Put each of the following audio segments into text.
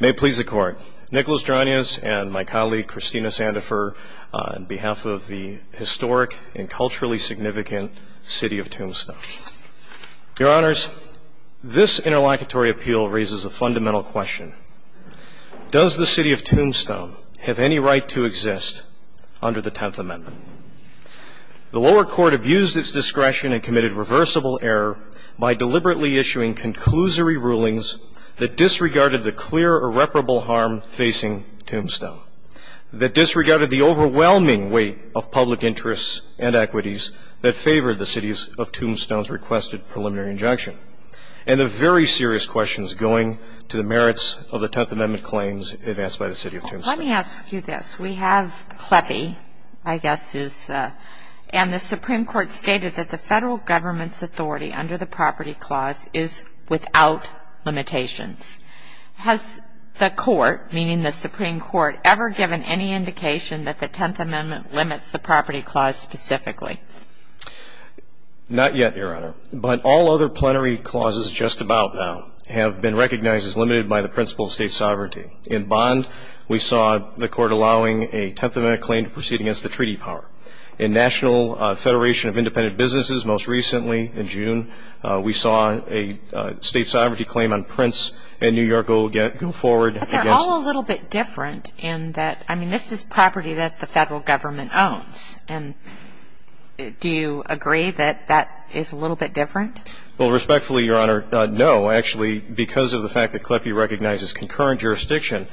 May it please the Court, Nicholas Dronias and my colleague Christina Sandifer on behalf of the historic and culturally significant City of Tombstone. Your Honors, this interlocutory appeal raises a fundamental question. Does the City of Tombstone have any right to exist under the Tenth Amendment? The lower court abused its discretion and committed reversible error by deliberately issuing conclusory rulings that disregarded the clear irreparable harm facing Tombstone, that disregarded the overwhelming weight of public interests and equities that favored the City of Tombstone's requested preliminary injunction, and the very serious questions going to the merits of the Tenth Amendment claims advanced by the City of Tombstone. Let me ask you this. We have Kleppe, I guess, and the Supreme Court stated that the federal government's authority under the Property Clause is without limitations. Has the Court, meaning the Supreme Court, ever given any indication that the Tenth Amendment limits the Property Clause specifically? Not yet, Your Honor, but all other plenary clauses just about now have been recognized as limited by the principle of state sovereignty. In Bond, we saw the Court allowing a Tenth Amendment claim to proceed against the treaty power. In National Federation of Independent Businesses, most recently in June, we saw a state sovereignty claim on Prince and New York go forward against it. But they're all a little bit different in that, I mean, this is property that the federal government owns. And do you agree that that is a little bit different? Well, respectfully, Your Honor, no. Actually, because of the fact that Kleppe recognizes concurrent jurisdiction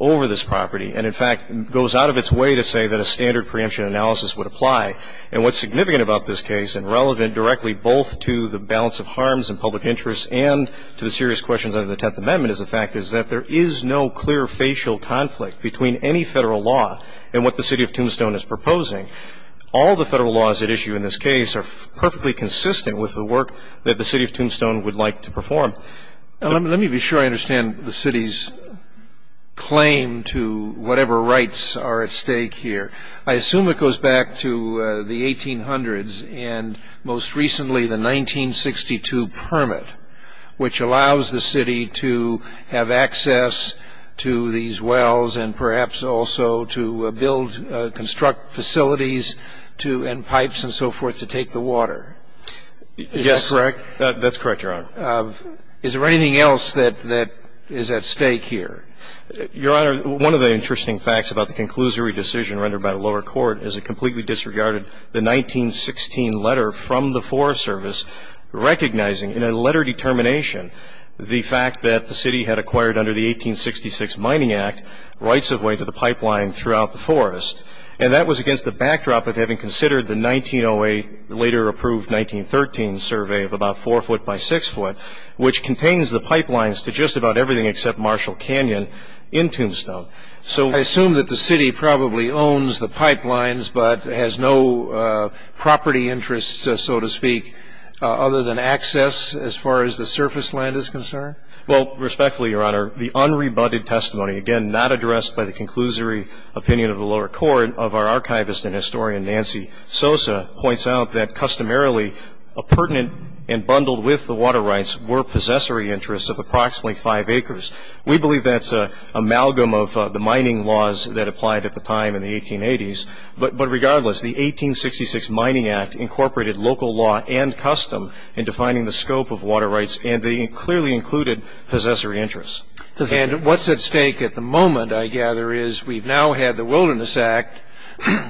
over this property, and in fact goes out of its way to say that a standard preemption analysis would apply. And what's significant about this case and relevant directly both to the balance of harms and public interests and to the serious questions under the Tenth Amendment is the fact is that there is no clear facial conflict between any federal law and what the City of Tombstone is proposing. All the federal laws at issue in this case are perfectly consistent with the work that the City of Tombstone would like to perform. Let me be sure I understand the City's claim to whatever rights are at stake here. I assume it goes back to the 1800s and, most recently, the 1962 permit, which allows the City to have access to these wells and perhaps also to build, construct facilities and pipes and so forth to take the water. Is that correct? That's correct, Your Honor. Is there anything else that is at stake here? Your Honor, one of the interesting facts about the conclusory decision rendered by the lower court is it completely disregarded the 1916 letter from the Forest Service recognizing, in a letter determination, the fact that the City had acquired under the 1866 Mining Act rights of way to the pipeline throughout the forest. And that was against the backdrop of having considered the 1908, later approved 1913, survey of about 4 foot by 6 foot, which contains the pipelines to just about everything except Marshall Canyon in Tombstone. So I assume that the City probably owns the pipelines but has no property interests, so to speak, other than access as far as the surface land is concerned? Well, respectfully, Your Honor, the unrebutted testimony, again, not addressed by the conclusory opinion of the lower court, of our archivist and historian, Nancy Sosa, points out that customarily pertinent and bundled with the water rights were possessory interests of approximately 5 acres. We believe that's an amalgam of the mining laws that applied at the time in the 1880s. But regardless, the 1866 Mining Act incorporated local law and custom in defining the scope of water rights, and they clearly included possessory interests. And what's at stake at the moment, I gather, is we've now had the Wilderness Act,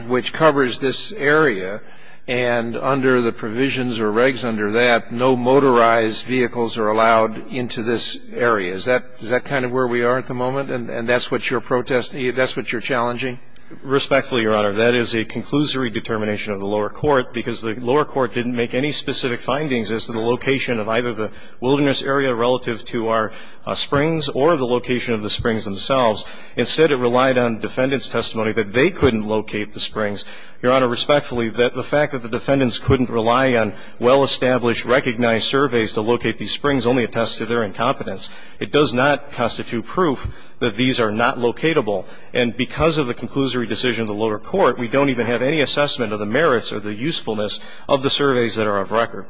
which covers this area, and under the provisions or regs under that, no motorized vehicles are allowed into this area. Is that kind of where we are at the moment, and that's what you're challenging? Respectfully, Your Honor, that is a conclusory determination of the lower court, because the lower court didn't make any specific findings as to the location of either the wilderness area relative to our springs or the location of the springs themselves. Instead, it relied on defendants' testimony that they couldn't locate the springs. Your Honor, respectfully, the fact that the defendants couldn't rely on well-established, recognized surveys to locate these springs only attests to their incompetence. It does not constitute proof that these are not locatable. And because of the conclusory decision of the lower court, we don't even have any assessment of the merits or the usefulness of the surveys that are of record.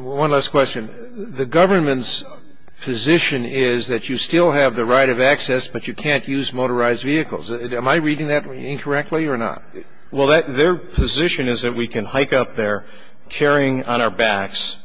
One last question. The government's position is that you still have the right of access, but you can't use motorized vehicles. Am I reading that incorrectly or not? Well, their position is that we can hike up there carrying on our backs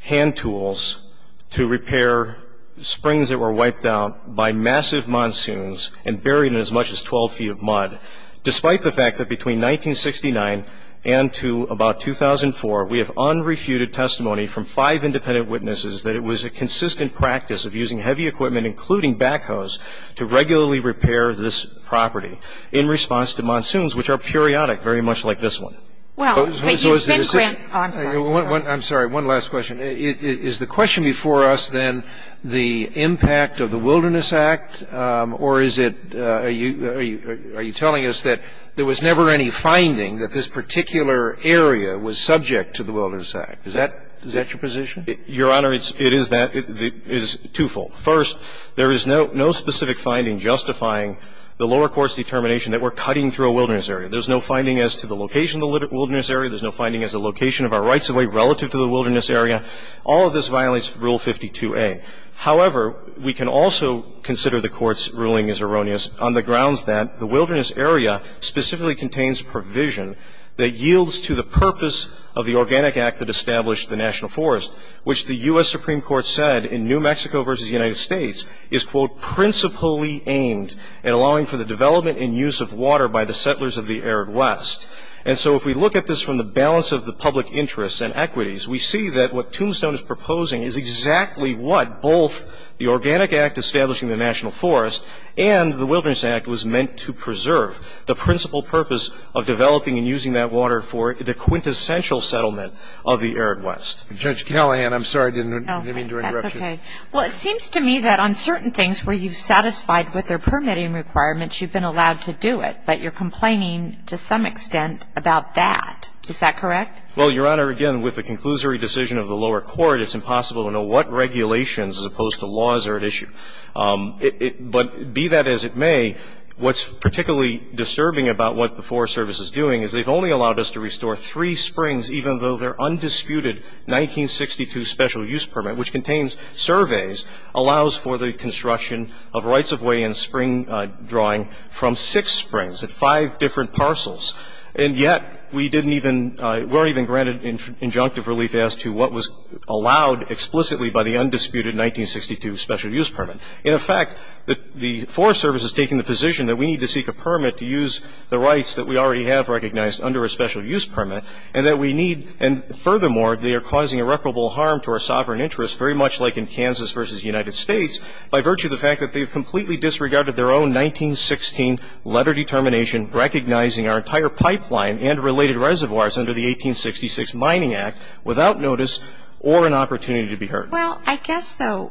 hand tools to repair springs that were wiped out by massive monsoons and buried in as much as 12 feet of mud, despite the fact that between 1969 and to about 2004, we have unrefuted testimony from five independent witnesses that it was a consistent practice of using heavy equipment, including backhoes, to regularly repair this property in response to monsoons, which are periodic, very much like this one. Well, but you said, Grant, I'm sorry. I'm sorry. One last question. Is the question before us, then, the impact of the Wilderness Act, or is it are you telling us that there was never any finding that this particular area was subject to the Wilderness Act? Is that your position? Your Honor, it is that. It is twofold. First, there is no specific finding justifying the lower court's determination that we're cutting through a wilderness area. There's no finding as to the location of the wilderness area. There's no finding as to the location of our rights-of-way relative to the wilderness area. All of this violates Rule 52a. However, we can also consider the Court's ruling as erroneous on the grounds that the wilderness area specifically contains provision that yields to the purpose of the Organic Act that established the national forest, which the U.S. Supreme Court said in New Mexico v. United States is, quote, principally aimed at allowing for the development and use of water by the settlers of the arid west. And so if we look at this from the balance of the public interests and equities, we see that what Tombstone is proposing is exactly what both the Organic Act establishing the national forest and the Wilderness Act was meant to preserve, the principal purpose of developing and using that water for the quintessential settlement of the arid west. Judge Callahan, I'm sorry. I didn't mean to interrupt you. That's okay. Well, it seems to me that on certain things where you've satisfied with their permitting requirements, you've been allowed to do it. But you're complaining to some extent about that. Is that correct? Well, Your Honor, again, with the conclusory decision of the lower court, it's impossible to know what regulations as opposed to laws are at issue. But be that as it may, what's particularly disturbing about what the Forest Service is doing is they've only allowed us to restore three springs, even though they're 1962 special use permit, which contains surveys, allows for the construction of rights of way and spring drawing from six springs at five different parcels. And yet we didn't even – weren't even granted injunctive relief as to what was allowed explicitly by the undisputed 1962 special use permit. In effect, the Forest Service is taking the position that we need to seek a permit to use the rights that we already have recognized under a special use permit, and that we need – and furthermore, they are causing irreparable harm to our sovereign interests, very much like in Kansas v. United States, by virtue of the fact that they've completely disregarded their own 1916 letter determination recognizing our entire pipeline and related reservoirs under the 1866 Mining Act without notice or an opportunity to be heard. Well, I guess so.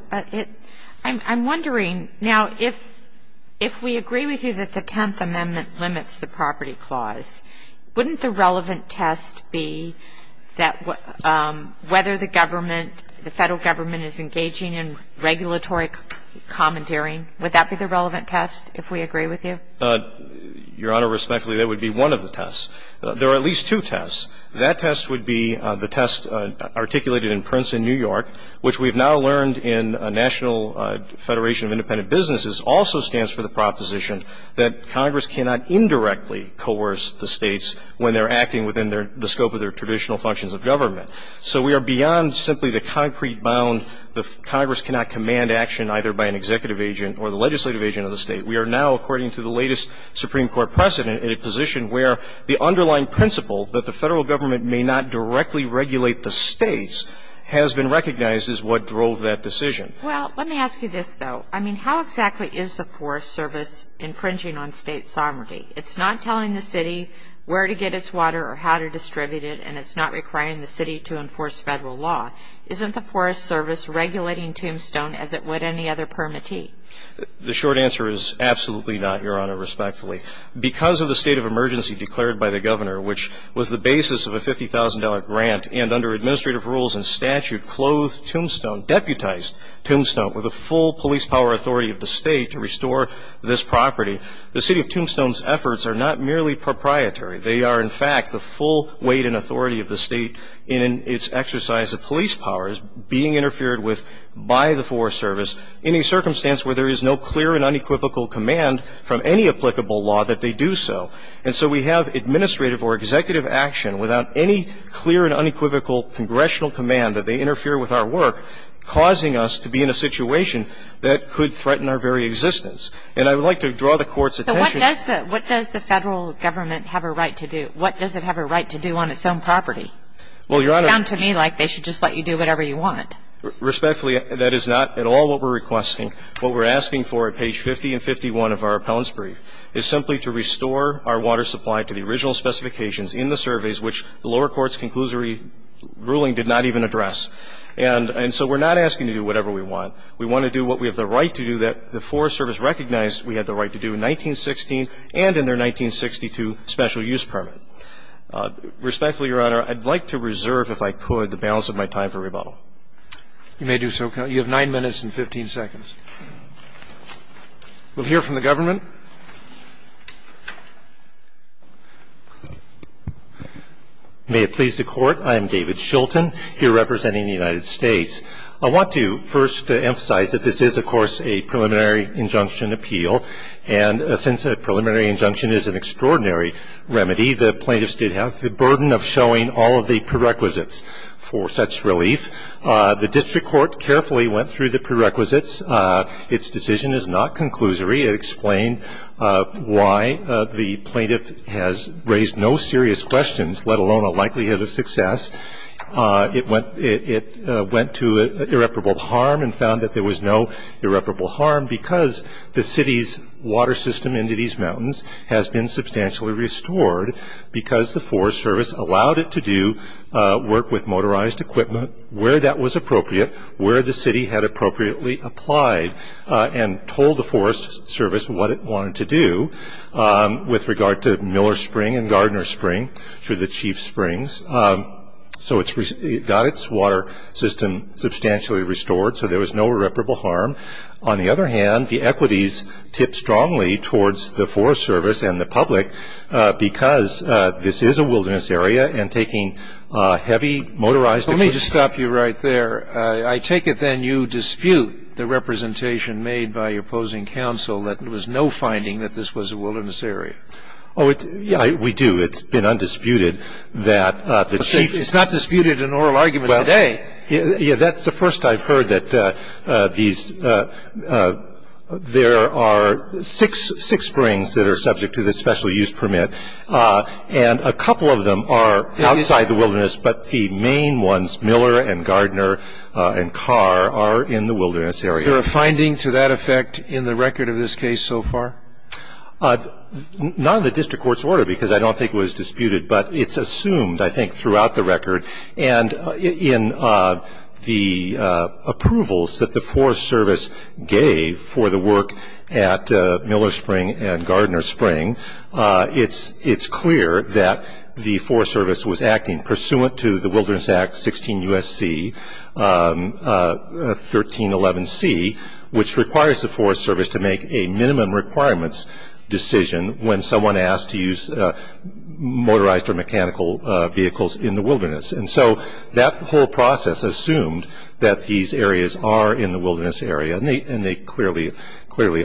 I'm wondering, now, if we agree with you that the Tenth Amendment limits the property clause, wouldn't the relevant test be that whether the government, the Federal Government is engaging in regulatory commandeering? Would that be the relevant test, if we agree with you? Your Honor, respectfully, that would be one of the tests. There are at least two tests. That test would be the test articulated in Prince in New York, which we've now learned in National Federation of Independent Businesses also stands for the proposition that Congress cannot indirectly coerce the States when they're acting within the scope of their traditional functions of government. So we are beyond simply the concrete bound that Congress cannot command action either by an executive agent or the legislative agent of the State. We are now, according to the latest Supreme Court precedent, in a position where the underlying principle that the Federal Government may not directly regulate the States has been recognized as what drove that decision. Well, let me ask you this, though. I mean, how exactly is the Forest Service infringing on State sovereignty? It's not telling the City where to get its water or how to distribute it, and it's not requiring the City to enforce Federal law. Isn't the Forest Service regulating Tombstone as it would any other permittee? The short answer is absolutely not, Your Honor, respectfully. Because of the state of emergency declared by the Governor, which was the basis of a $50,000 grant and under administrative rules and statute clothed Tombstone, deputized Tombstone with a full police power authority of the State to restore this property, the City of Tombstone's efforts are not merely proprietary. They are, in fact, the full weight and authority of the State in its exercise of police powers being interfered with by the Forest Service in a circumstance where there is no clear and unequivocal command from any applicable law that they do so. And I would like to draw the Court's attention to the fact that the Federal Government has a right to do that. What does the Federal Government have a right to do? What does it have a right to do on its own property? It sounds to me like they should just let you do whatever you want. Respectfully, that is not at all what we're requesting. What we're asking for at page 50 and 51 of our appellant's brief is simply to restore our water supply to the original specifications in the surveys which the lower court's conclusory ruling did not even address. And so we're not asking to do whatever we want. We want to do what we have the right to do that the Forest Service recognized we had the right to do in 1916 and in their 1962 special use permit. Respectfully, Your Honor, I'd like to reserve, if I could, the balance of my time for rebuttal. You may do so, Counsel. You have 9 minutes and 15 seconds. We'll hear from the Government. May it please the Court. I am David Shulton, here representing the United States. I want to first emphasize that this is, of course, a preliminary injunction appeal. And since a preliminary injunction is an extraordinary remedy, the plaintiffs did have the burden of showing all of the prerequisites for such relief. The district court carefully went through the prerequisites. Its decision is not conclusory. It explained why the plaintiff has raised no serious questions, let alone a likelihood of success. It went to irreparable harm and found that there was no irreparable harm because the city's water system into these mountains has been substantially restored because the Forest Service allowed it to do work with motorized equipment where that was appropriate, where the city had appropriately applied, and told the Forest Service what it wanted to do with regard to Miller Spring and Gardner Spring through the Chief Springs. So it got its water system substantially restored, so there was no irreparable harm. On the other hand, the equities tipped strongly towards the Forest Service and the public because this is a wilderness area and taking heavy motorized equipment. Let me just stop you right there. I take it then you dispute the representation made by your opposing counsel that there was no finding that this was a wilderness area. Oh, we do. It's been undisputed that the Chief. It's not disputed in oral argument today. Yeah. That's the first I've heard that these – there are six springs that are subject to the Forest Service, but the main ones, Miller and Gardner and Carr, are in the wilderness area. Is there a finding to that effect in the record of this case so far? Not in the district court's order because I don't think it was disputed, but it's assumed, I think, throughout the record. And in the approvals that the Forest Service gave for the work at Miller Spring and Gardner Spring, it's clear that the Forest Service was acting pursuant to the Wilderness Act 16 U.S.C. 1311C, which requires the Forest Service to make a minimum requirements decision when someone asked to use motorized or mechanical vehicles in the wilderness. And so that whole process assumed that these areas are in the wilderness area, and they clearly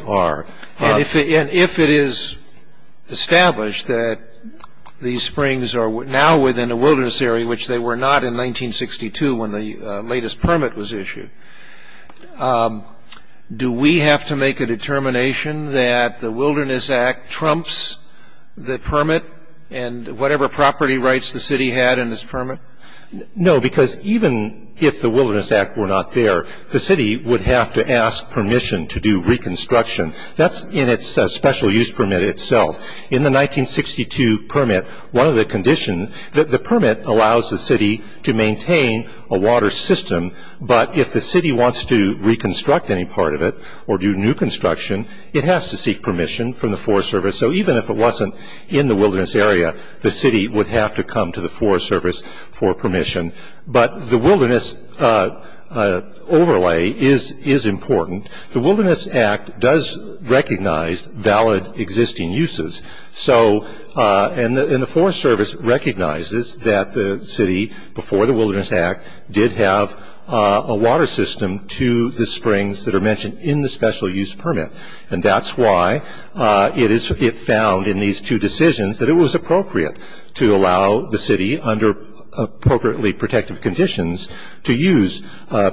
are. And if it is established that these springs are now within the wilderness area, which they were not in 1962 when the latest permit was issued, do we have to make a determination that the Wilderness Act trumps the permit and whatever property rights the city had in this permit? No, because even if the Wilderness Act were not there, the city would have to ask permission to do reconstruction. That's in its special use permit itself. In the 1962 permit, one of the conditions, the permit allows the city to maintain a water system, but if the city wants to reconstruct any part of it or do new construction, it has to seek permission from the Forest Service. So even if it wasn't in the wilderness area, the city would have to come to the Forest Service for permission. But the wilderness overlay is important. The Wilderness Act does recognize valid existing uses. And the Forest Service recognizes that the city, before the Wilderness Act, did have a water system to the springs that are mentioned in the special use permit. And that's why it found in these two decisions that it was appropriate to allow the city, under appropriately protective conditions, to use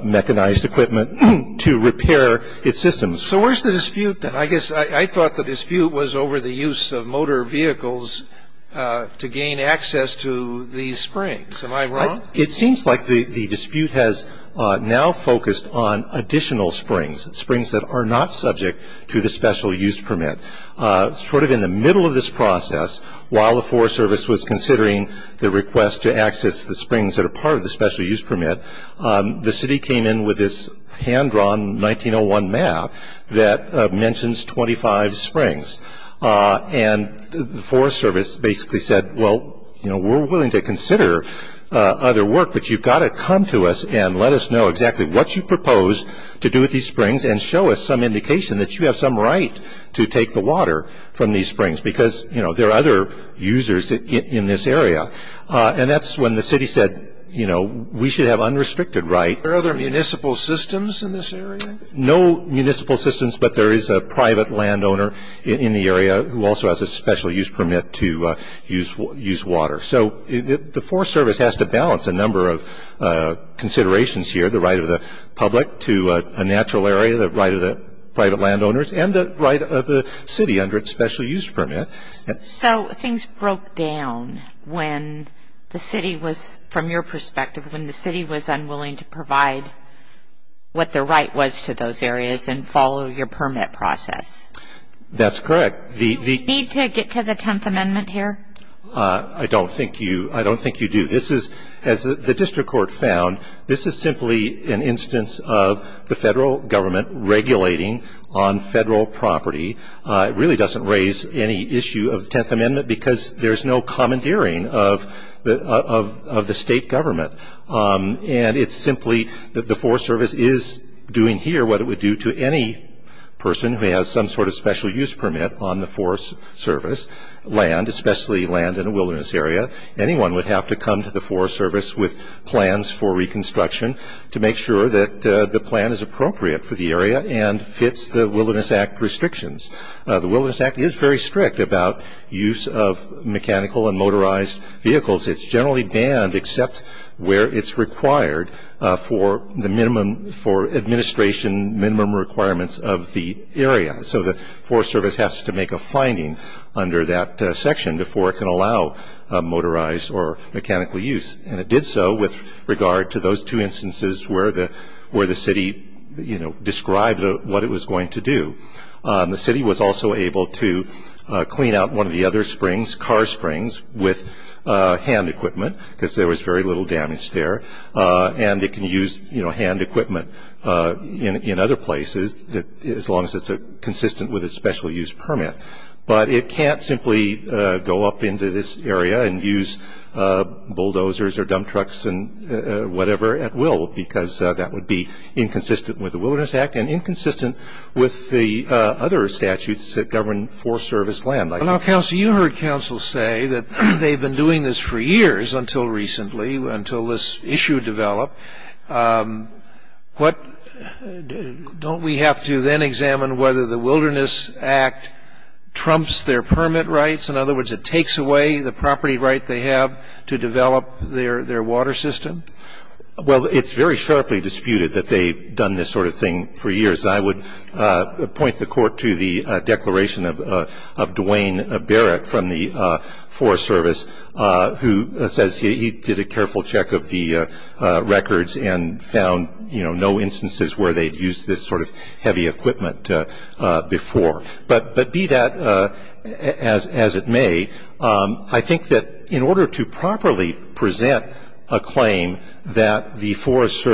mechanized equipment to repair its systems. So where's the dispute then? I guess I thought the dispute was over the use of motor vehicles to gain access to these springs. Am I wrong? It seems like the dispute has now focused on additional springs, springs that are not subject to the special use permit. Sort of in the middle of this process, while the Forest Service was considering the request to access the springs that are part of the special use permit, the hand-drawn 1901 map that mentions 25 springs. And the Forest Service basically said, well, we're willing to consider other work, but you've got to come to us and let us know exactly what you propose to do with these springs and show us some indication that you have some right to take the water from these springs. Because there are other users in this area. And that's when the city said, you know, we should have unrestricted right. Are there other municipal systems in this area? No municipal systems, but there is a private landowner in the area who also has a special use permit to use water. So the Forest Service has to balance a number of considerations here, the right of the public to a natural area, the right of the private landowners, and the right of the city under its special use permit. So things broke down when the city was, from your perspective, when the city was not able to provide what the right was to those areas and follow your permit process. That's correct. Do we need to get to the Tenth Amendment here? I don't think you do. This is, as the district court found, this is simply an instance of the Federal Government regulating on Federal property. It really doesn't raise any issue of the Tenth Amendment because there's no commandeering of the State Government. And it's simply that the Forest Service is doing here what it would do to any person who has some sort of special use permit on the Forest Service land, especially land in a wilderness area. Anyone would have to come to the Forest Service with plans for reconstruction to make sure that the plan is appropriate for the area and fits the Wilderness Act restrictions. The Wilderness Act is very strict about use of mechanical and motorized vehicles. It's generally banned except where it's required for the minimum, for administration minimum requirements of the area. So the Forest Service has to make a finding under that section before it can allow motorized or mechanical use. And it did so with regard to those two instances where the city, you know, described what it was going to do. The city was also able to clean out one of the other springs, car springs, with hand equipment because there was very little damage there. And it can use, you know, hand equipment in other places as long as it's consistent with a special use permit. But it can't simply go up into this area and use bulldozers or dump trucks and whatever at will because that would be inconsistent with the Wilderness Act and inconsistent with the other statutes that govern Forest Service land. Scalia, you can comment on this. Well, counsel, you heard counsel say that they've been doing this for years, until recently, until this issue developed. What don't we have to then examine whether the Wilderness Act trumps their permit rights? In other words, it takes away the property right they have to develop their water system? Well, it's very sharply disputed that they've done this sort of thing for years. I would point the Court to the declaration of Dwayne Barrett from the Forest Service, who says he did a careful check of the records and found, you know, no instances where they'd used this sort of heavy equipment before. But be that as it may, I think that in order to properly present a claim that the Wilderness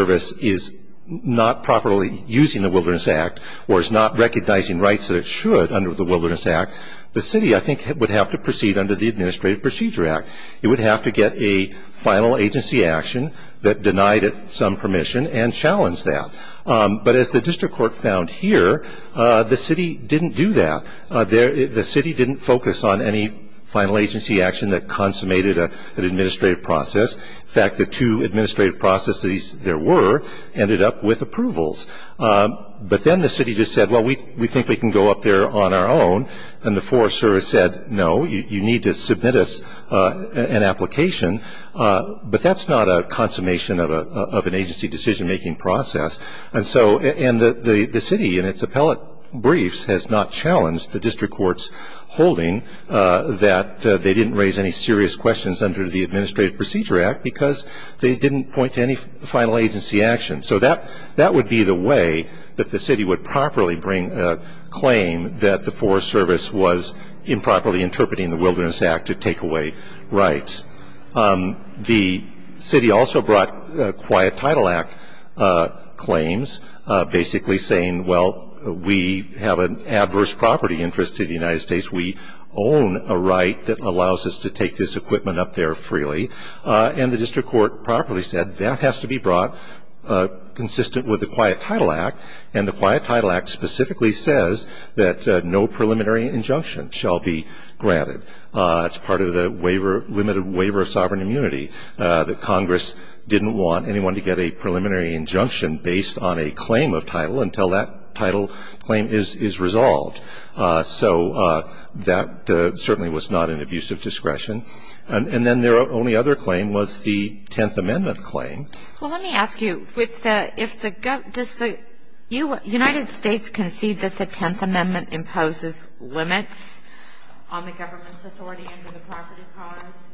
Act or is not recognizing rights that it should under the Wilderness Act, the city, I think, would have to proceed under the Administrative Procedure Act. It would have to get a final agency action that denied it some permission and challenged that. But as the district court found here, the city didn't do that. The city didn't focus on any final agency action that consummated an administrative process. In fact, the two administrative processes there were ended up with approvals. But then the city just said, well, we think we can go up there on our own. And the Forest Service said, no, you need to submit us an application. But that's not a consummation of an agency decision-making process. And so the city in its appellate briefs has not challenged the district court's holding that they didn't raise any serious questions under the Administrative Procedure Act because they didn't point to any final agency action. So that would be the way that the city would properly bring a claim that the Forest Service was improperly interpreting the Wilderness Act to take away rights. The city also brought Quiet Title Act claims, basically saying, well, we have an adverse property interest to the United States. We own a right that allows us to take this equipment up there freely. And the district court properly said, that has to be brought consistent with the Quiet Title Act. And the Quiet Title Act specifically says that no preliminary injunction shall be granted. It's part of the limited waiver of sovereign immunity, that Congress didn't want anyone to get a preliminary injunction based on a claim of title until that title So that certainly was not an abuse of discretion. And then their only other claim was the Tenth Amendment claim. Well, let me ask you. Does the United States concede that the Tenth Amendment imposes limits on the government's authority under the property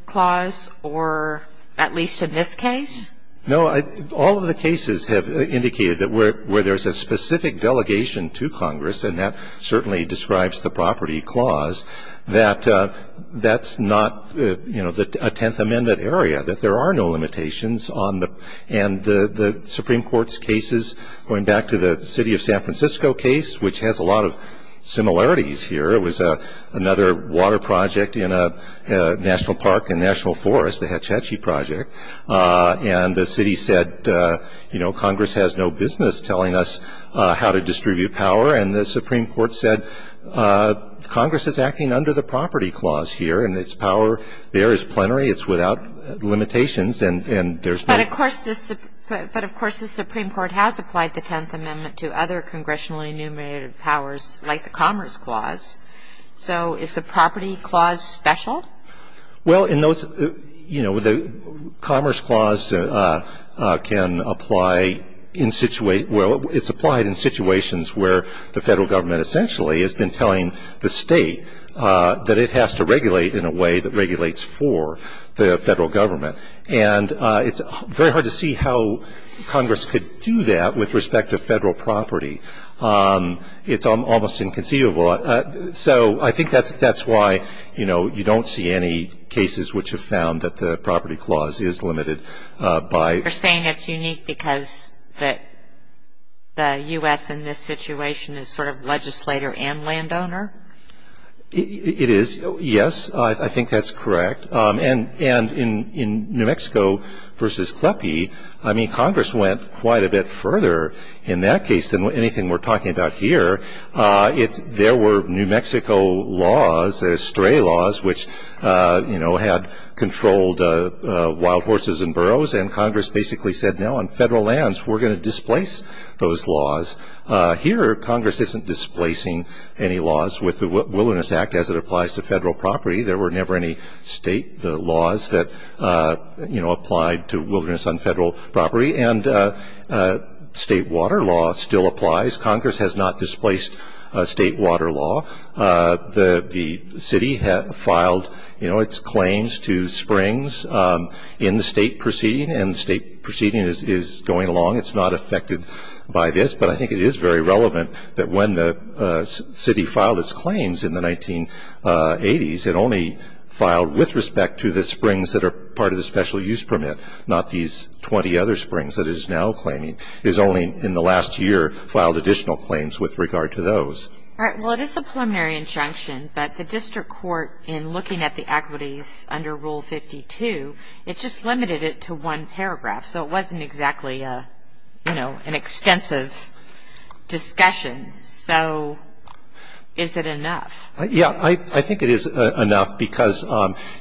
clause, or at least in this case? No. All of the cases have indicated that where there's a specific delegation to Congress, and that certainly describes the property clause, that that's not, you know, a Tenth Amendment area, that there are no limitations. And the Supreme Court's cases, going back to the city of San Francisco case, which has a lot of similarities here, it was another water project in a national park and national forest, the Hetch Hetchy project. And the city said, you know, Congress has no business telling us how to distribute power, and the Supreme Court said Congress is acting under the property clause here, and its power there is plenary. It's without limitations, and there's no ---- But, of course, the Supreme Court has applied the Tenth Amendment to other congressionally enumerated powers, like the Commerce Clause. So is the property clause special? Well, in those, you know, the Commerce Clause can apply in situate ñ well, it's applied in situations where the federal government essentially has been telling the state that it has to regulate in a way that regulates for the federal government. And it's very hard to see how Congress could do that with respect to federal property. It's almost inconceivable. So I think that's why, you know, you don't see any cases which have found that the property clause is limited by ñ It is. Yes, I think that's correct. And in New Mexico v. Kleppe, I mean, Congress went quite a bit further in that case than anything we're talking about here. There were New Mexico laws, stray laws, which, you know, had controlled wild horses and burros, and Congress basically said, no, on federal lands, we're going to displace those laws. Here, Congress isn't displacing any laws with the Wilderness Act as it applies to federal property. There were never any state laws that, you know, applied to wilderness on federal property. And state water law still applies. Congress has not displaced state water law. The city filed, you know, its claims to springs in the state proceeding, and the state proceeding is going along. It's not affected by this, but I think it is very relevant that when the city filed its claims in the 1980s, it only filed with respect to the springs that are part of the special use permit, not these 20 other springs that it is now claiming. It has only, in the last year, filed additional claims with regard to those. All right. Well, it is a preliminary injunction, but the district court, in looking at the equities under Rule 52, it just limited it to one paragraph. So it wasn't exactly, you know, an extensive discussion. So is it enough? Yeah. I think it is enough because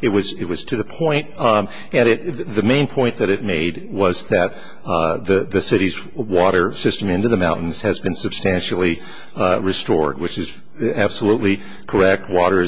it was to the point. And the main point that it made was that the city's water system into the mountains has been substantially restored, which is absolutely correct. Water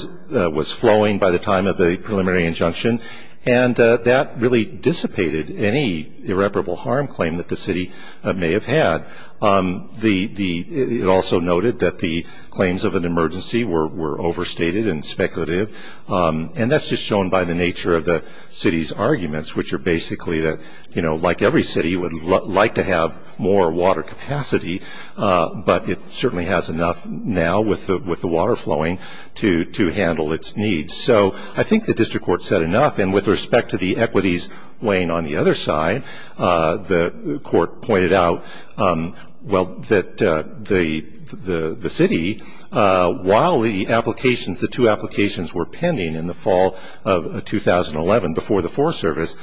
was flowing by the time of the preliminary injunction, and that really dissipated any irreparable harm claim that the city may have had. It also noted that the claims of an emergency were overstated and speculative. And that's just shown by the nature of the city's arguments, which are basically that, you know, like every city would like to have more water capacity, but it certainly has enough now with the water flowing to handle its needs. So I think the district court said enough. And with respect to the equities weighing on the other side, the court pointed out, well, that the city, while the applications, the two applications were pending in the fall of 2011 before the Forest Service,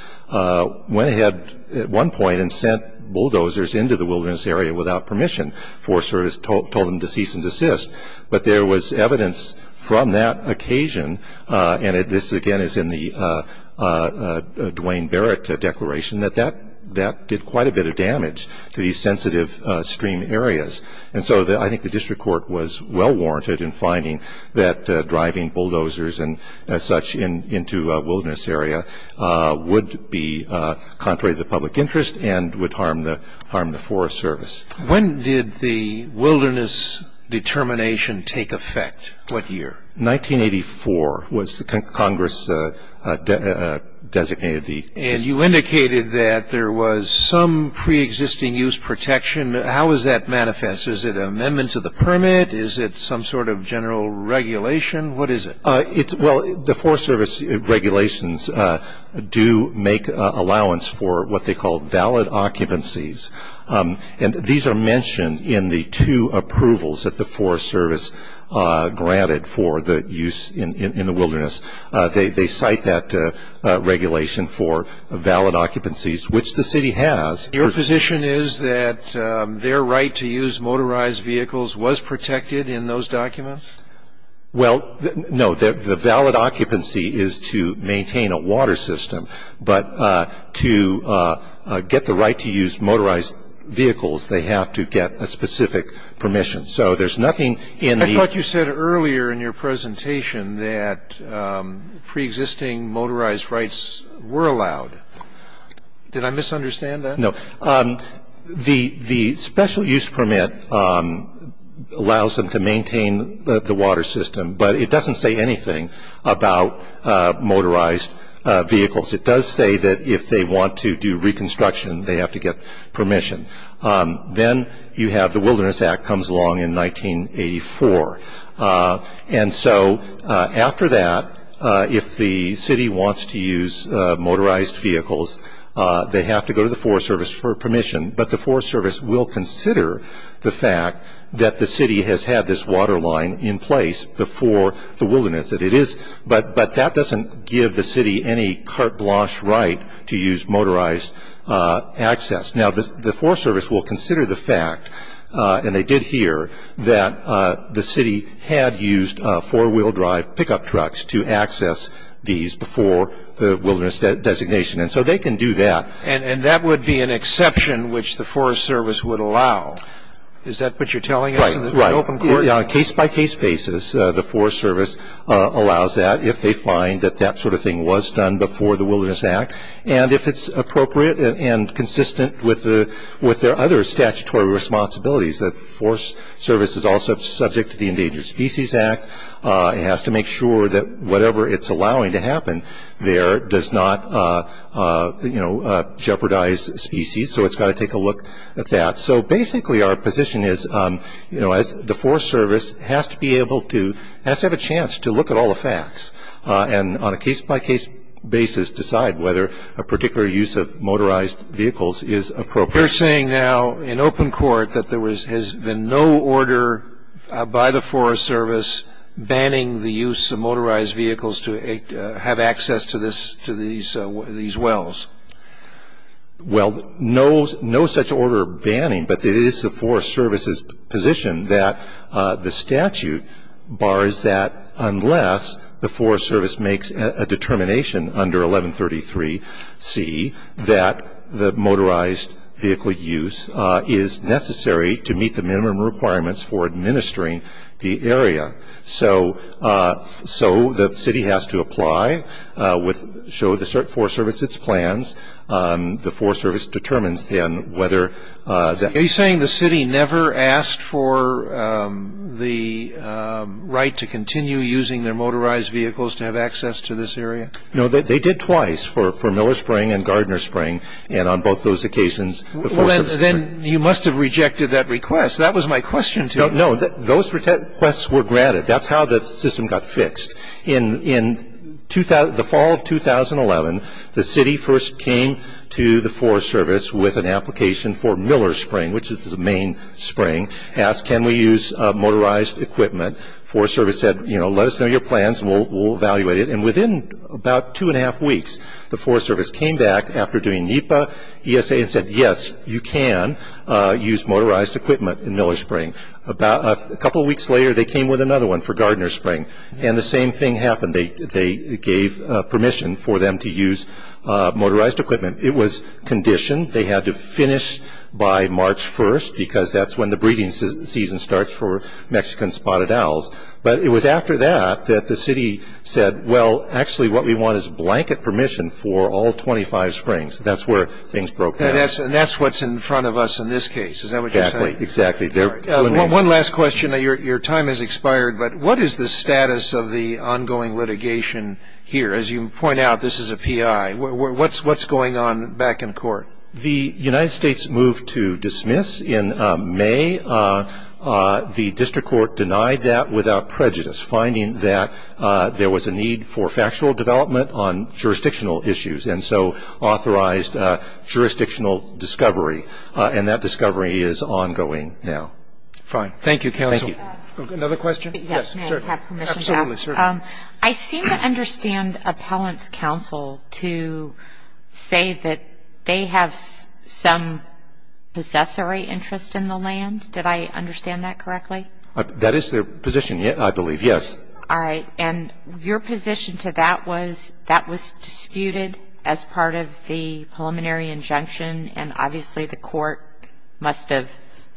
went ahead at one point and sent bulldozers into the wilderness area without permission. Forest Service told them to cease and desist. But there was evidence from that occasion, and this again is in the Duane Barrett declaration, that that did quite a bit of damage to these sensitive stream areas. And so I think the district court was well warranted in finding that driving bulldozers and such into a wilderness area would be contrary to the public interest and would harm the Forest Service. When did the wilderness determination take effect? What year? 1984 was when Congress designated the- And you indicated that there was some preexisting use protection. How is that manifest? Is it an amendment to the permit? Is it some sort of general regulation? What is it? Well, the Forest Service regulations do make allowance for what they call valid occupancies. And these are mentioned in the two approvals that the Forest Service granted for the use in the wilderness. They cite that regulation for valid occupancies, which the city has. Your position is that their right to use motorized vehicles was protected in those documents? Well, no. The valid occupancy is to maintain a water system. But to get the right to use motorized vehicles, they have to get a specific permission. So there's nothing in the- I thought you said earlier in your presentation that preexisting motorized rights were allowed. Did I misunderstand that? No. The special use permit allows them to maintain the water system, but it doesn't say anything about motorized vehicles. It does say that if they want to do reconstruction, they have to get permission. Then you have the Wilderness Act comes along in 1984. And so after that, if the city wants to use motorized vehicles, they have to go to the Forest Service for permission. But the Forest Service will consider the fact that the city has had this water line in place before the wilderness. But that doesn't give the city any carte blanche right to use motorized access. Now, the Forest Service will consider the fact, and they did here, that the city had used four-wheel drive pickup trucks to access these before the wilderness designation. And so they can do that. And that would be an exception which the Forest Service would allow. Is that what you're telling us in the open court? Right. On a case-by-case basis, the Forest Service allows that if they find that that sort of thing was done before the Wilderness Act. And if it's appropriate and consistent with their other statutory responsibilities, the Forest Service is also subject to the Endangered Species Act. It has to make sure that whatever it's allowing to happen there does not, you know, jeopardize species. So it's got to take a look at that. So basically our position is, you know, the Forest Service has to have a chance to look at all the facts and on a case-by-case basis decide whether a particular use of motorized vehicles is appropriate. You're saying now in open court that there has been no order by the Forest Service banning the use of motorized vehicles to have access to these wells. Well, no such order banning. But it is the Forest Service's position that the statute bars that unless the Forest Service makes a determination under 1133C that the motorized vehicle use is necessary to meet the minimum requirements for administering the area. So the city has to apply, show the Forest Service its plans. The Forest Service determines then whether that. Are you saying the city never asked for the right to continue using their motorized vehicles to have access to this area? No, they did twice, for Miller Spring and Gardner Spring, and on both those occasions the Forest Service. Well, then you must have rejected that request. That was my question to you. No, those requests were granted. That's how the system got fixed. In the fall of 2011, the city first came to the Forest Service with an application for Miller Spring, which is the main spring, asked can we use motorized equipment. The Forest Service said, you know, let us know your plans and we'll evaluate it. And within about two and a half weeks, the Forest Service came back after doing NEPA, ESA, and said yes, you can use motorized equipment in Miller Spring. A couple of weeks later they came with another one for Gardner Spring. And the same thing happened. They gave permission for them to use motorized equipment. It was conditioned. They had to finish by March 1st because that's when the breeding season starts for Mexican spotted owls. But it was after that that the city said, well, actually what we want is blanket permission for all 25 springs. That's where things broke down. And that's what's in front of us in this case. Is that what you're saying? Exactly, exactly. One last question. Your time has expired, but what is the status of the ongoing litigation here? As you point out, this is a PI. What's going on back in court? The United States moved to dismiss in May. The district court denied that without prejudice, finding that there was a need for factual development on jurisdictional issues, and so authorized jurisdictional discovery. And that discovery is ongoing now. Fine. Thank you, counsel. Another question? Yes. May I have permission to ask? Absolutely. I seem to understand appellant's counsel to say that they have some possessory interest in the land. Did I understand that correctly? That is their position, I believe. Yes. All right. And your position to that was that was disputed as part of the preliminary injunction, and obviously the court must have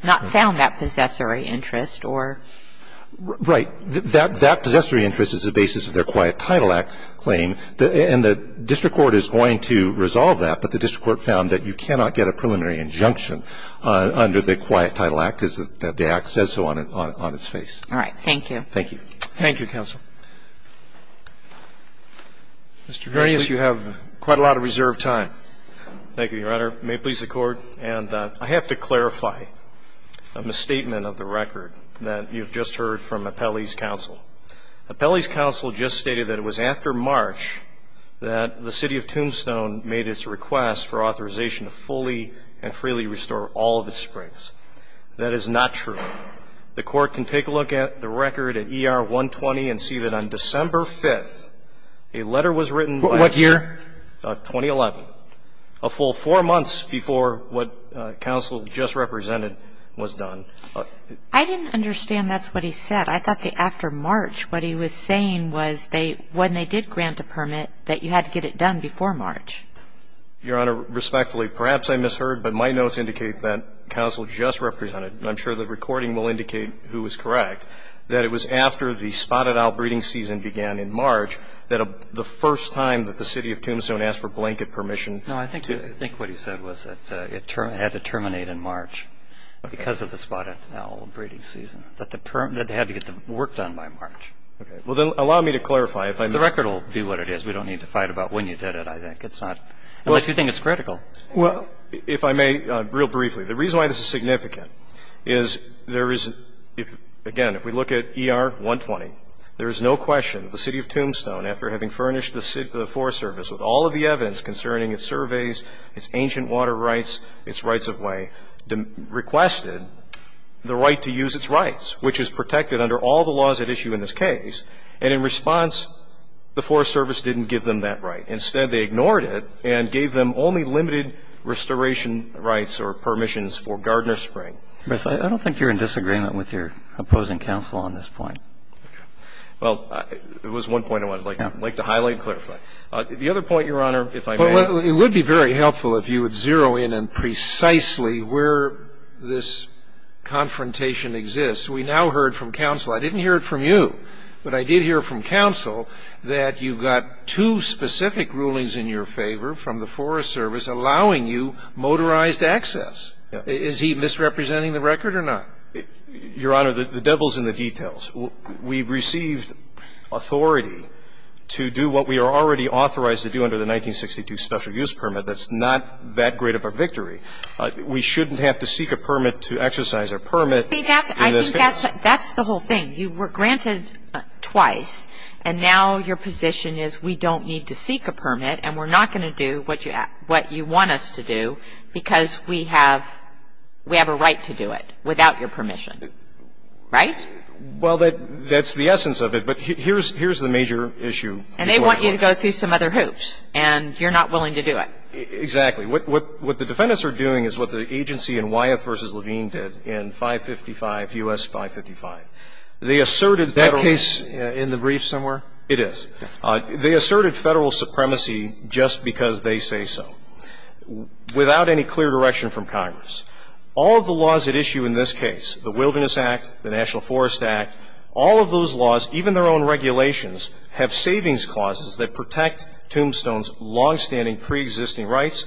not found that possessory interest or? Right. That possessory interest is the basis of their Quiet Title Act claim, and the district court is going to resolve that, but the district court found that you cannot get a preliminary injunction under the Quiet Title Act because the act says so on its face. All right. Thank you. Thank you, counsel. Mr. Verries, you have quite a lot of reserved time. Thank you, Your Honor. May it please the Court. And I have to clarify a misstatement of the record that you've just heard from appellant's counsel. Appellant's counsel just stated that it was after March that the City of Tombstone made its request for authorization to fully and freely restore all of its springs. That is not true. The court can take a look at the record at ER 120 and see that on December 5th, a letter was written. What year? 2011. A full four months before what counsel just represented was done. I didn't understand that's what he said. I thought that after March what he was saying was when they did grant a permit, that you had to get it done before March. Your Honor, respectfully, perhaps I misheard, but my notes indicate that counsel just represented, and I'm sure the recording will indicate who is correct, that it was after the spotted owl breeding season began in March that the first time that the City of Tombstone asked for blanket permission to do it. No, I think what he said was that it had to terminate in March because of the spotted owl breeding season, that they had to get the work done by March. Okay. Well, then allow me to clarify. The record will be what it is. We don't need to fight about when you did it, I think. Unless you think it's critical. Well, if I may, real briefly. The reason why this is significant is there is, again, if we look at ER-120, there is no question the City of Tombstone, after having furnished the Forest Service with all of the evidence concerning its surveys, its ancient water rights, its rights of way, requested the right to use its rights, which is protected under all the laws at issue in this case. And in response, the Forest Service didn't give them that right. Instead, they ignored it and gave them only limited restoration rights or permissions for Gardner Spring. Bruce, I don't think you're in disagreement with your opposing counsel on this point. Okay. Well, it was 1.01. I'd like to highlight and clarify. The other point, Your Honor, if I may. Well, it would be very helpful if you would zero in on precisely where this confrontation exists. We now heard from counsel. I didn't hear it from you, but I did hear from counsel that you got two specific rulings in your favor from the Forest Service allowing you motorized access. Is he misrepresenting the record or not? Your Honor, the devil's in the details. We received authority to do what we are already authorized to do under the 1962 special use permit. That's not that great of a victory. I think that's the whole thing. You were granted twice, and now your position is we don't need to seek a permit, and we're not going to do what you want us to do because we have a right to do it without your permission. Right? Well, that's the essence of it. But here's the major issue. And they want you to go through some other hoops, and you're not willing to do it. Exactly. What the defendants are doing is what the agency in Wyeth v. Levine did in 555, U.S. 555. They asserted Federal Is that case in the brief somewhere? It is. They asserted Federal supremacy just because they say so, without any clear direction from Congress. All of the laws at issue in this case, the Wilderness Act, the National Forest Act, all of those laws, even their own regulations, have savings clauses that protect tombstones, longstanding preexisting rights,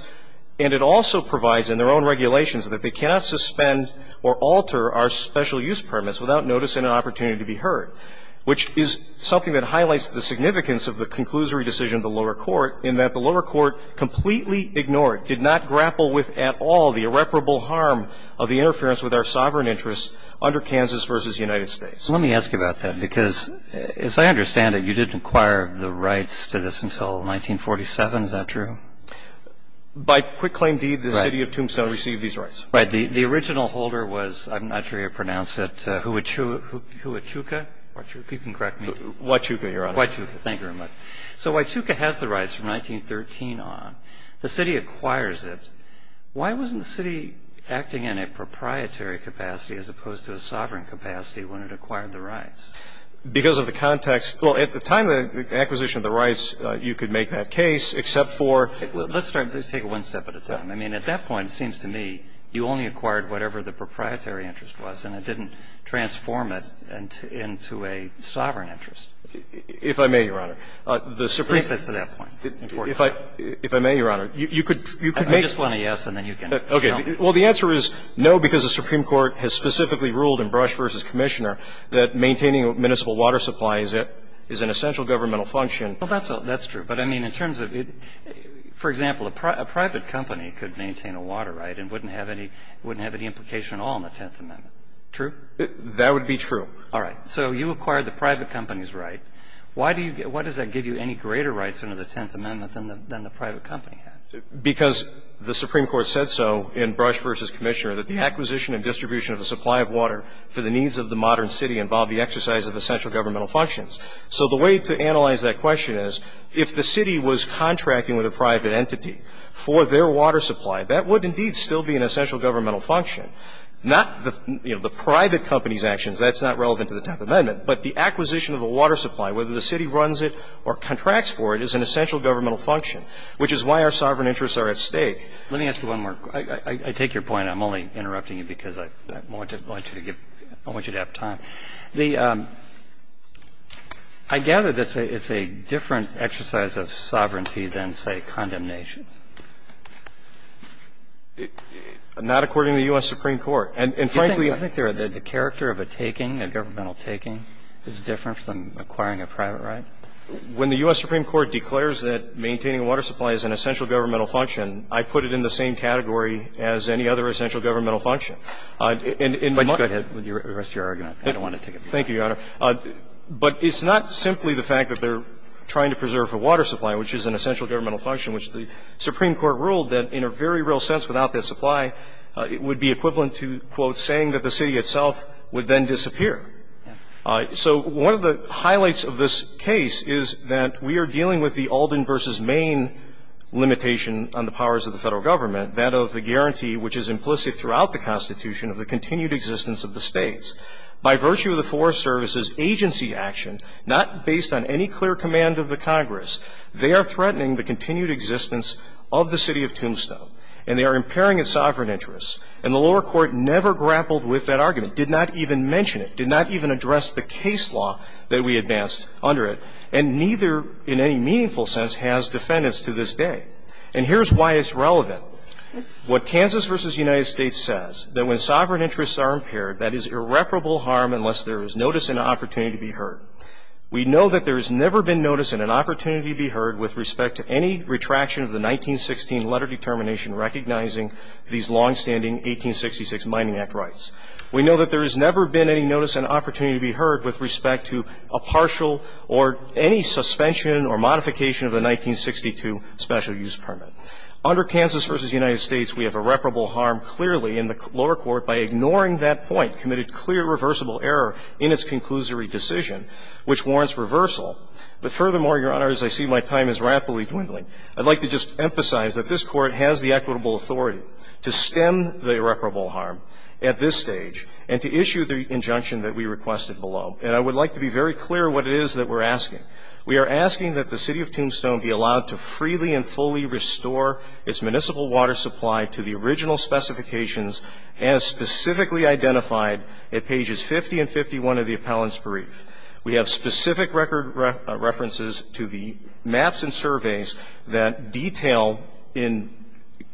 and it also provides in their own regulations that they cannot suspend or alter our special use permits without notice and an opportunity to be heard, which is something that highlights the significance of the conclusory decision of the lower court in that the lower court completely ignored, did not grapple with at all the irreparable harm of the interference with our sovereign interests under Kansas v. United States. Let me ask you about that, because as I understand it, you didn't acquire the rights to this until 1947. Is that true? By quick claim deed, the city of Tombstone received these rights. Right. The original holder was, I'm not sure how you pronounce it, Huachuca. Huachuca. If you can correct me. Huachuca, Your Honor. Huachuca. Thank you very much. So Huachuca has the rights from 1913 on. The city acquires it. Why wasn't the city acting in a proprietary capacity as opposed to a sovereign capacity when it acquired the rights? Because of the context. Well, at the time of the acquisition of the rights, you could make that case, except for. Let's start. Let's take it one step at a time. I mean, at that point, it seems to me you only acquired whatever the proprietary interest was, and it didn't transform it into a sovereign interest. If I may, Your Honor, the Supreme Court. Bring it to that point. If I may, Your Honor, you could make. I just want a yes, and then you can jump. Okay. Well, the answer is no, because the Supreme Court has specifically ruled in Brush v. Commissioner that maintaining a municipal water supply is an essential governmental function. Well, that's true. But, I mean, in terms of it. For example, a private company could maintain a water right and wouldn't have any implication at all in the Tenth Amendment. True? That would be true. All right. So you acquired the private company's right. Why does that give you any greater rights under the Tenth Amendment than the private company had? Because the Supreme Court said so in Brush v. Commissioner that the acquisition and distribution of the supply of water for the needs of the modern city involved the exercise of essential governmental functions. So the way to analyze that question is, if the city was contracting with a private entity for their water supply, that would indeed still be an essential governmental function, not the, you know, the private company's actions. That's not relevant to the Tenth Amendment. But the acquisition of a water supply, whether the city runs it or contracts for it, is an essential governmental function, which is why our sovereign interests are at stake. Let me ask you one more. I take your point. I'm only interrupting you because I want you to have time. The – I gather that it's a different exercise of sovereignty than, say, condemnation. Not according to the U.S. Supreme Court. And, frankly – Do you think the character of a taking, a governmental taking, is different from acquiring a private right? When the U.S. Supreme Court declares that maintaining a water supply is an essential governmental function, I put it in the same category as any other essential governmental function. And in my – Go ahead with the rest of your argument. I don't want to take it. Thank you, Your Honor. But it's not simply the fact that they're trying to preserve a water supply, which is an essential governmental function, which the Supreme Court ruled that in a very real sense, without that supply, it would be equivalent to, quote, saying that the city itself would then disappear. So one of the highlights of this case is that we are dealing with the Alden v. Main limitation on the powers of the Federal Government, that of the guarantee which is implicit throughout the Constitution of the continued existence of the States. By virtue of the Forest Service's agency action, not based on any clear command of the Congress, they are threatening the continued existence of the city of Tombstone, and they are impairing its sovereign interests. And the lower court never grappled with that argument, did not even mention it, did not even address the case law that we advanced under it, and neither, in any meaningful sense, has defendants to this day. And here's why it's relevant. What Kansas v. United States says, that when sovereign interests are impaired, that is irreparable harm unless there is notice and opportunity to be heard. We know that there has never been notice and an opportunity to be heard with respect to any retraction of the 1916 letter determination recognizing these longstanding 1866 Mining Act rights. We know that there has never been any notice and opportunity to be heard with respect to a partial or any suspension or modification of the 1962 Special Use Permit. Under Kansas v. United States, we have irreparable harm clearly in the lower court by ignoring that point, committed clear reversible error in its conclusory decision, which warrants reversal. But furthermore, Your Honor, as I see my time is rapidly dwindling, I'd like to just at this stage and to issue the injunction that we requested below. And I would like to be very clear what it is that we're asking. We are asking that the City of Tombstone be allowed to freely and fully restore its municipal water supply to the original specifications as specifically identified at pages 50 and 51 of the appellant's brief. We have specific record references to the maps and surveys that detail in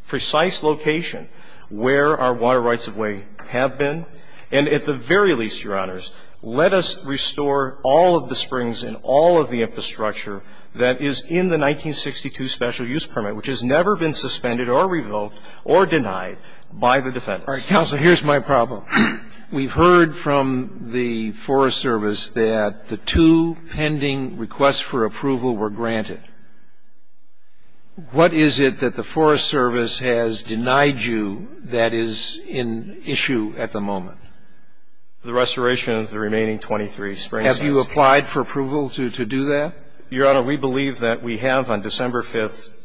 precise location where our water rights of way have been. And at the very least, Your Honors, let us restore all of the springs and all of the infrastructure that is in the 1962 Special Use Permit, which has never been suspended or revoked or denied by the defendants. All right, counsel, here's my problem. We've heard from the Forest Service that the two pending requests for approval were granted. What is it that the Forest Service has denied you that is in issue at the moment? The restoration of the remaining 23 springs. Have you applied for approval to do that? Your Honor, we believe that we have on December 5,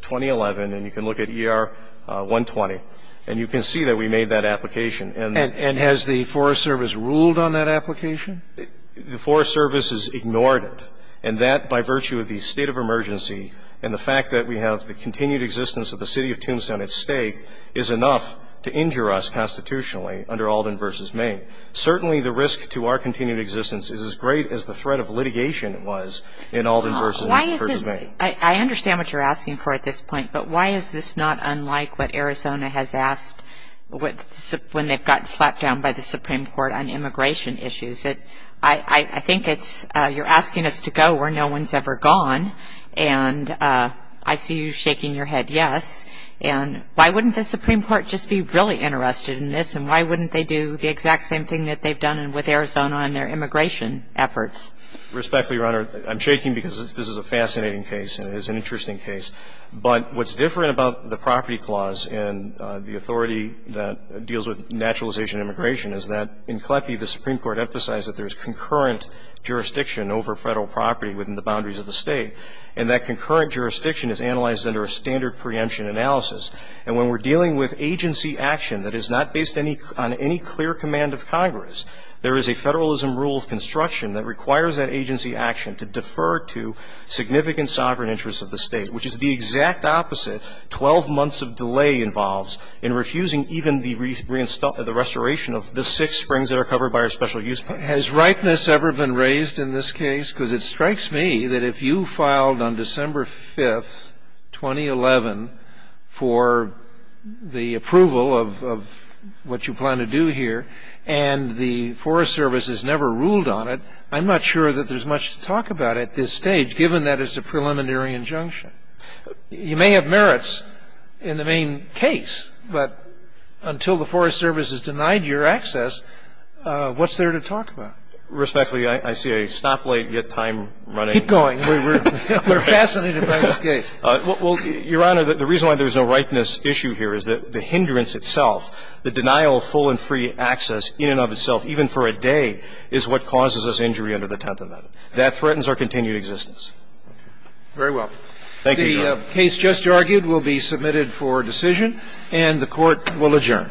2011, and you can look at ER 120, and you can see that we made that application. And has the Forest Service ruled on that application? The Forest Service has ignored it. And that, by virtue of the state of emergency and the fact that we have the continued existence of the city of Tombstone at stake, is enough to injure us constitutionally under Alden v. Maine. Certainly the risk to our continued existence is as great as the threat of litigation was in Alden v. Maine. I understand what you're asking for at this point, but why is this not unlike what Arizona has asked when they've gotten slapped down by the Supreme Court on immigration issues? I think it's, you're asking us to go where no one's ever gone, and I see you shaking your head yes. And why wouldn't the Supreme Court just be really interested in this, and why wouldn't they do the exact same thing that they've done with Arizona and their immigration efforts? Respectfully, Your Honor, I'm shaking because this is a fascinating case, and it is an interesting case. But what's different about the property clause and the authority that deals with naturalization and immigration is that in CLEPI, the Supreme Court emphasized that there is concurrent jurisdiction over Federal property within the boundaries of the State, and that concurrent jurisdiction is analyzed under a standard preemption analysis. And when we're dealing with agency action that is not based on any clear command of Congress, there is a Federalism rule of construction that requires that agency action to defer to significant sovereign interests of the State, which is the exact opposite. Twelve months of delay involves in refusing even the restoration of the six springs that are covered by our special use plan. Has ripeness ever been raised in this case? Because it strikes me that if you filed on December 5th, 2011, for the approval of what you plan to do here, and the Forest Service has never ruled on it, I'm not sure that there's much to talk about at this stage, given that it's a preliminary injunction. You may have merits in the main case, but until the Forest Service has denied your access, what's there to talk about? Respectfully, I see a stoplight yet time running. Keep going. We're fascinated by this case. Well, Your Honor, the reason why there's no ripeness issue here is that the hindrance itself, the denial of full and free access in and of itself, even for a day, is what causes us injury under the Tenth Amendment. That threatens our continued existence. Very well. Thank you, Your Honor. The case just argued will be submitted for decision, and the Court will adjourn.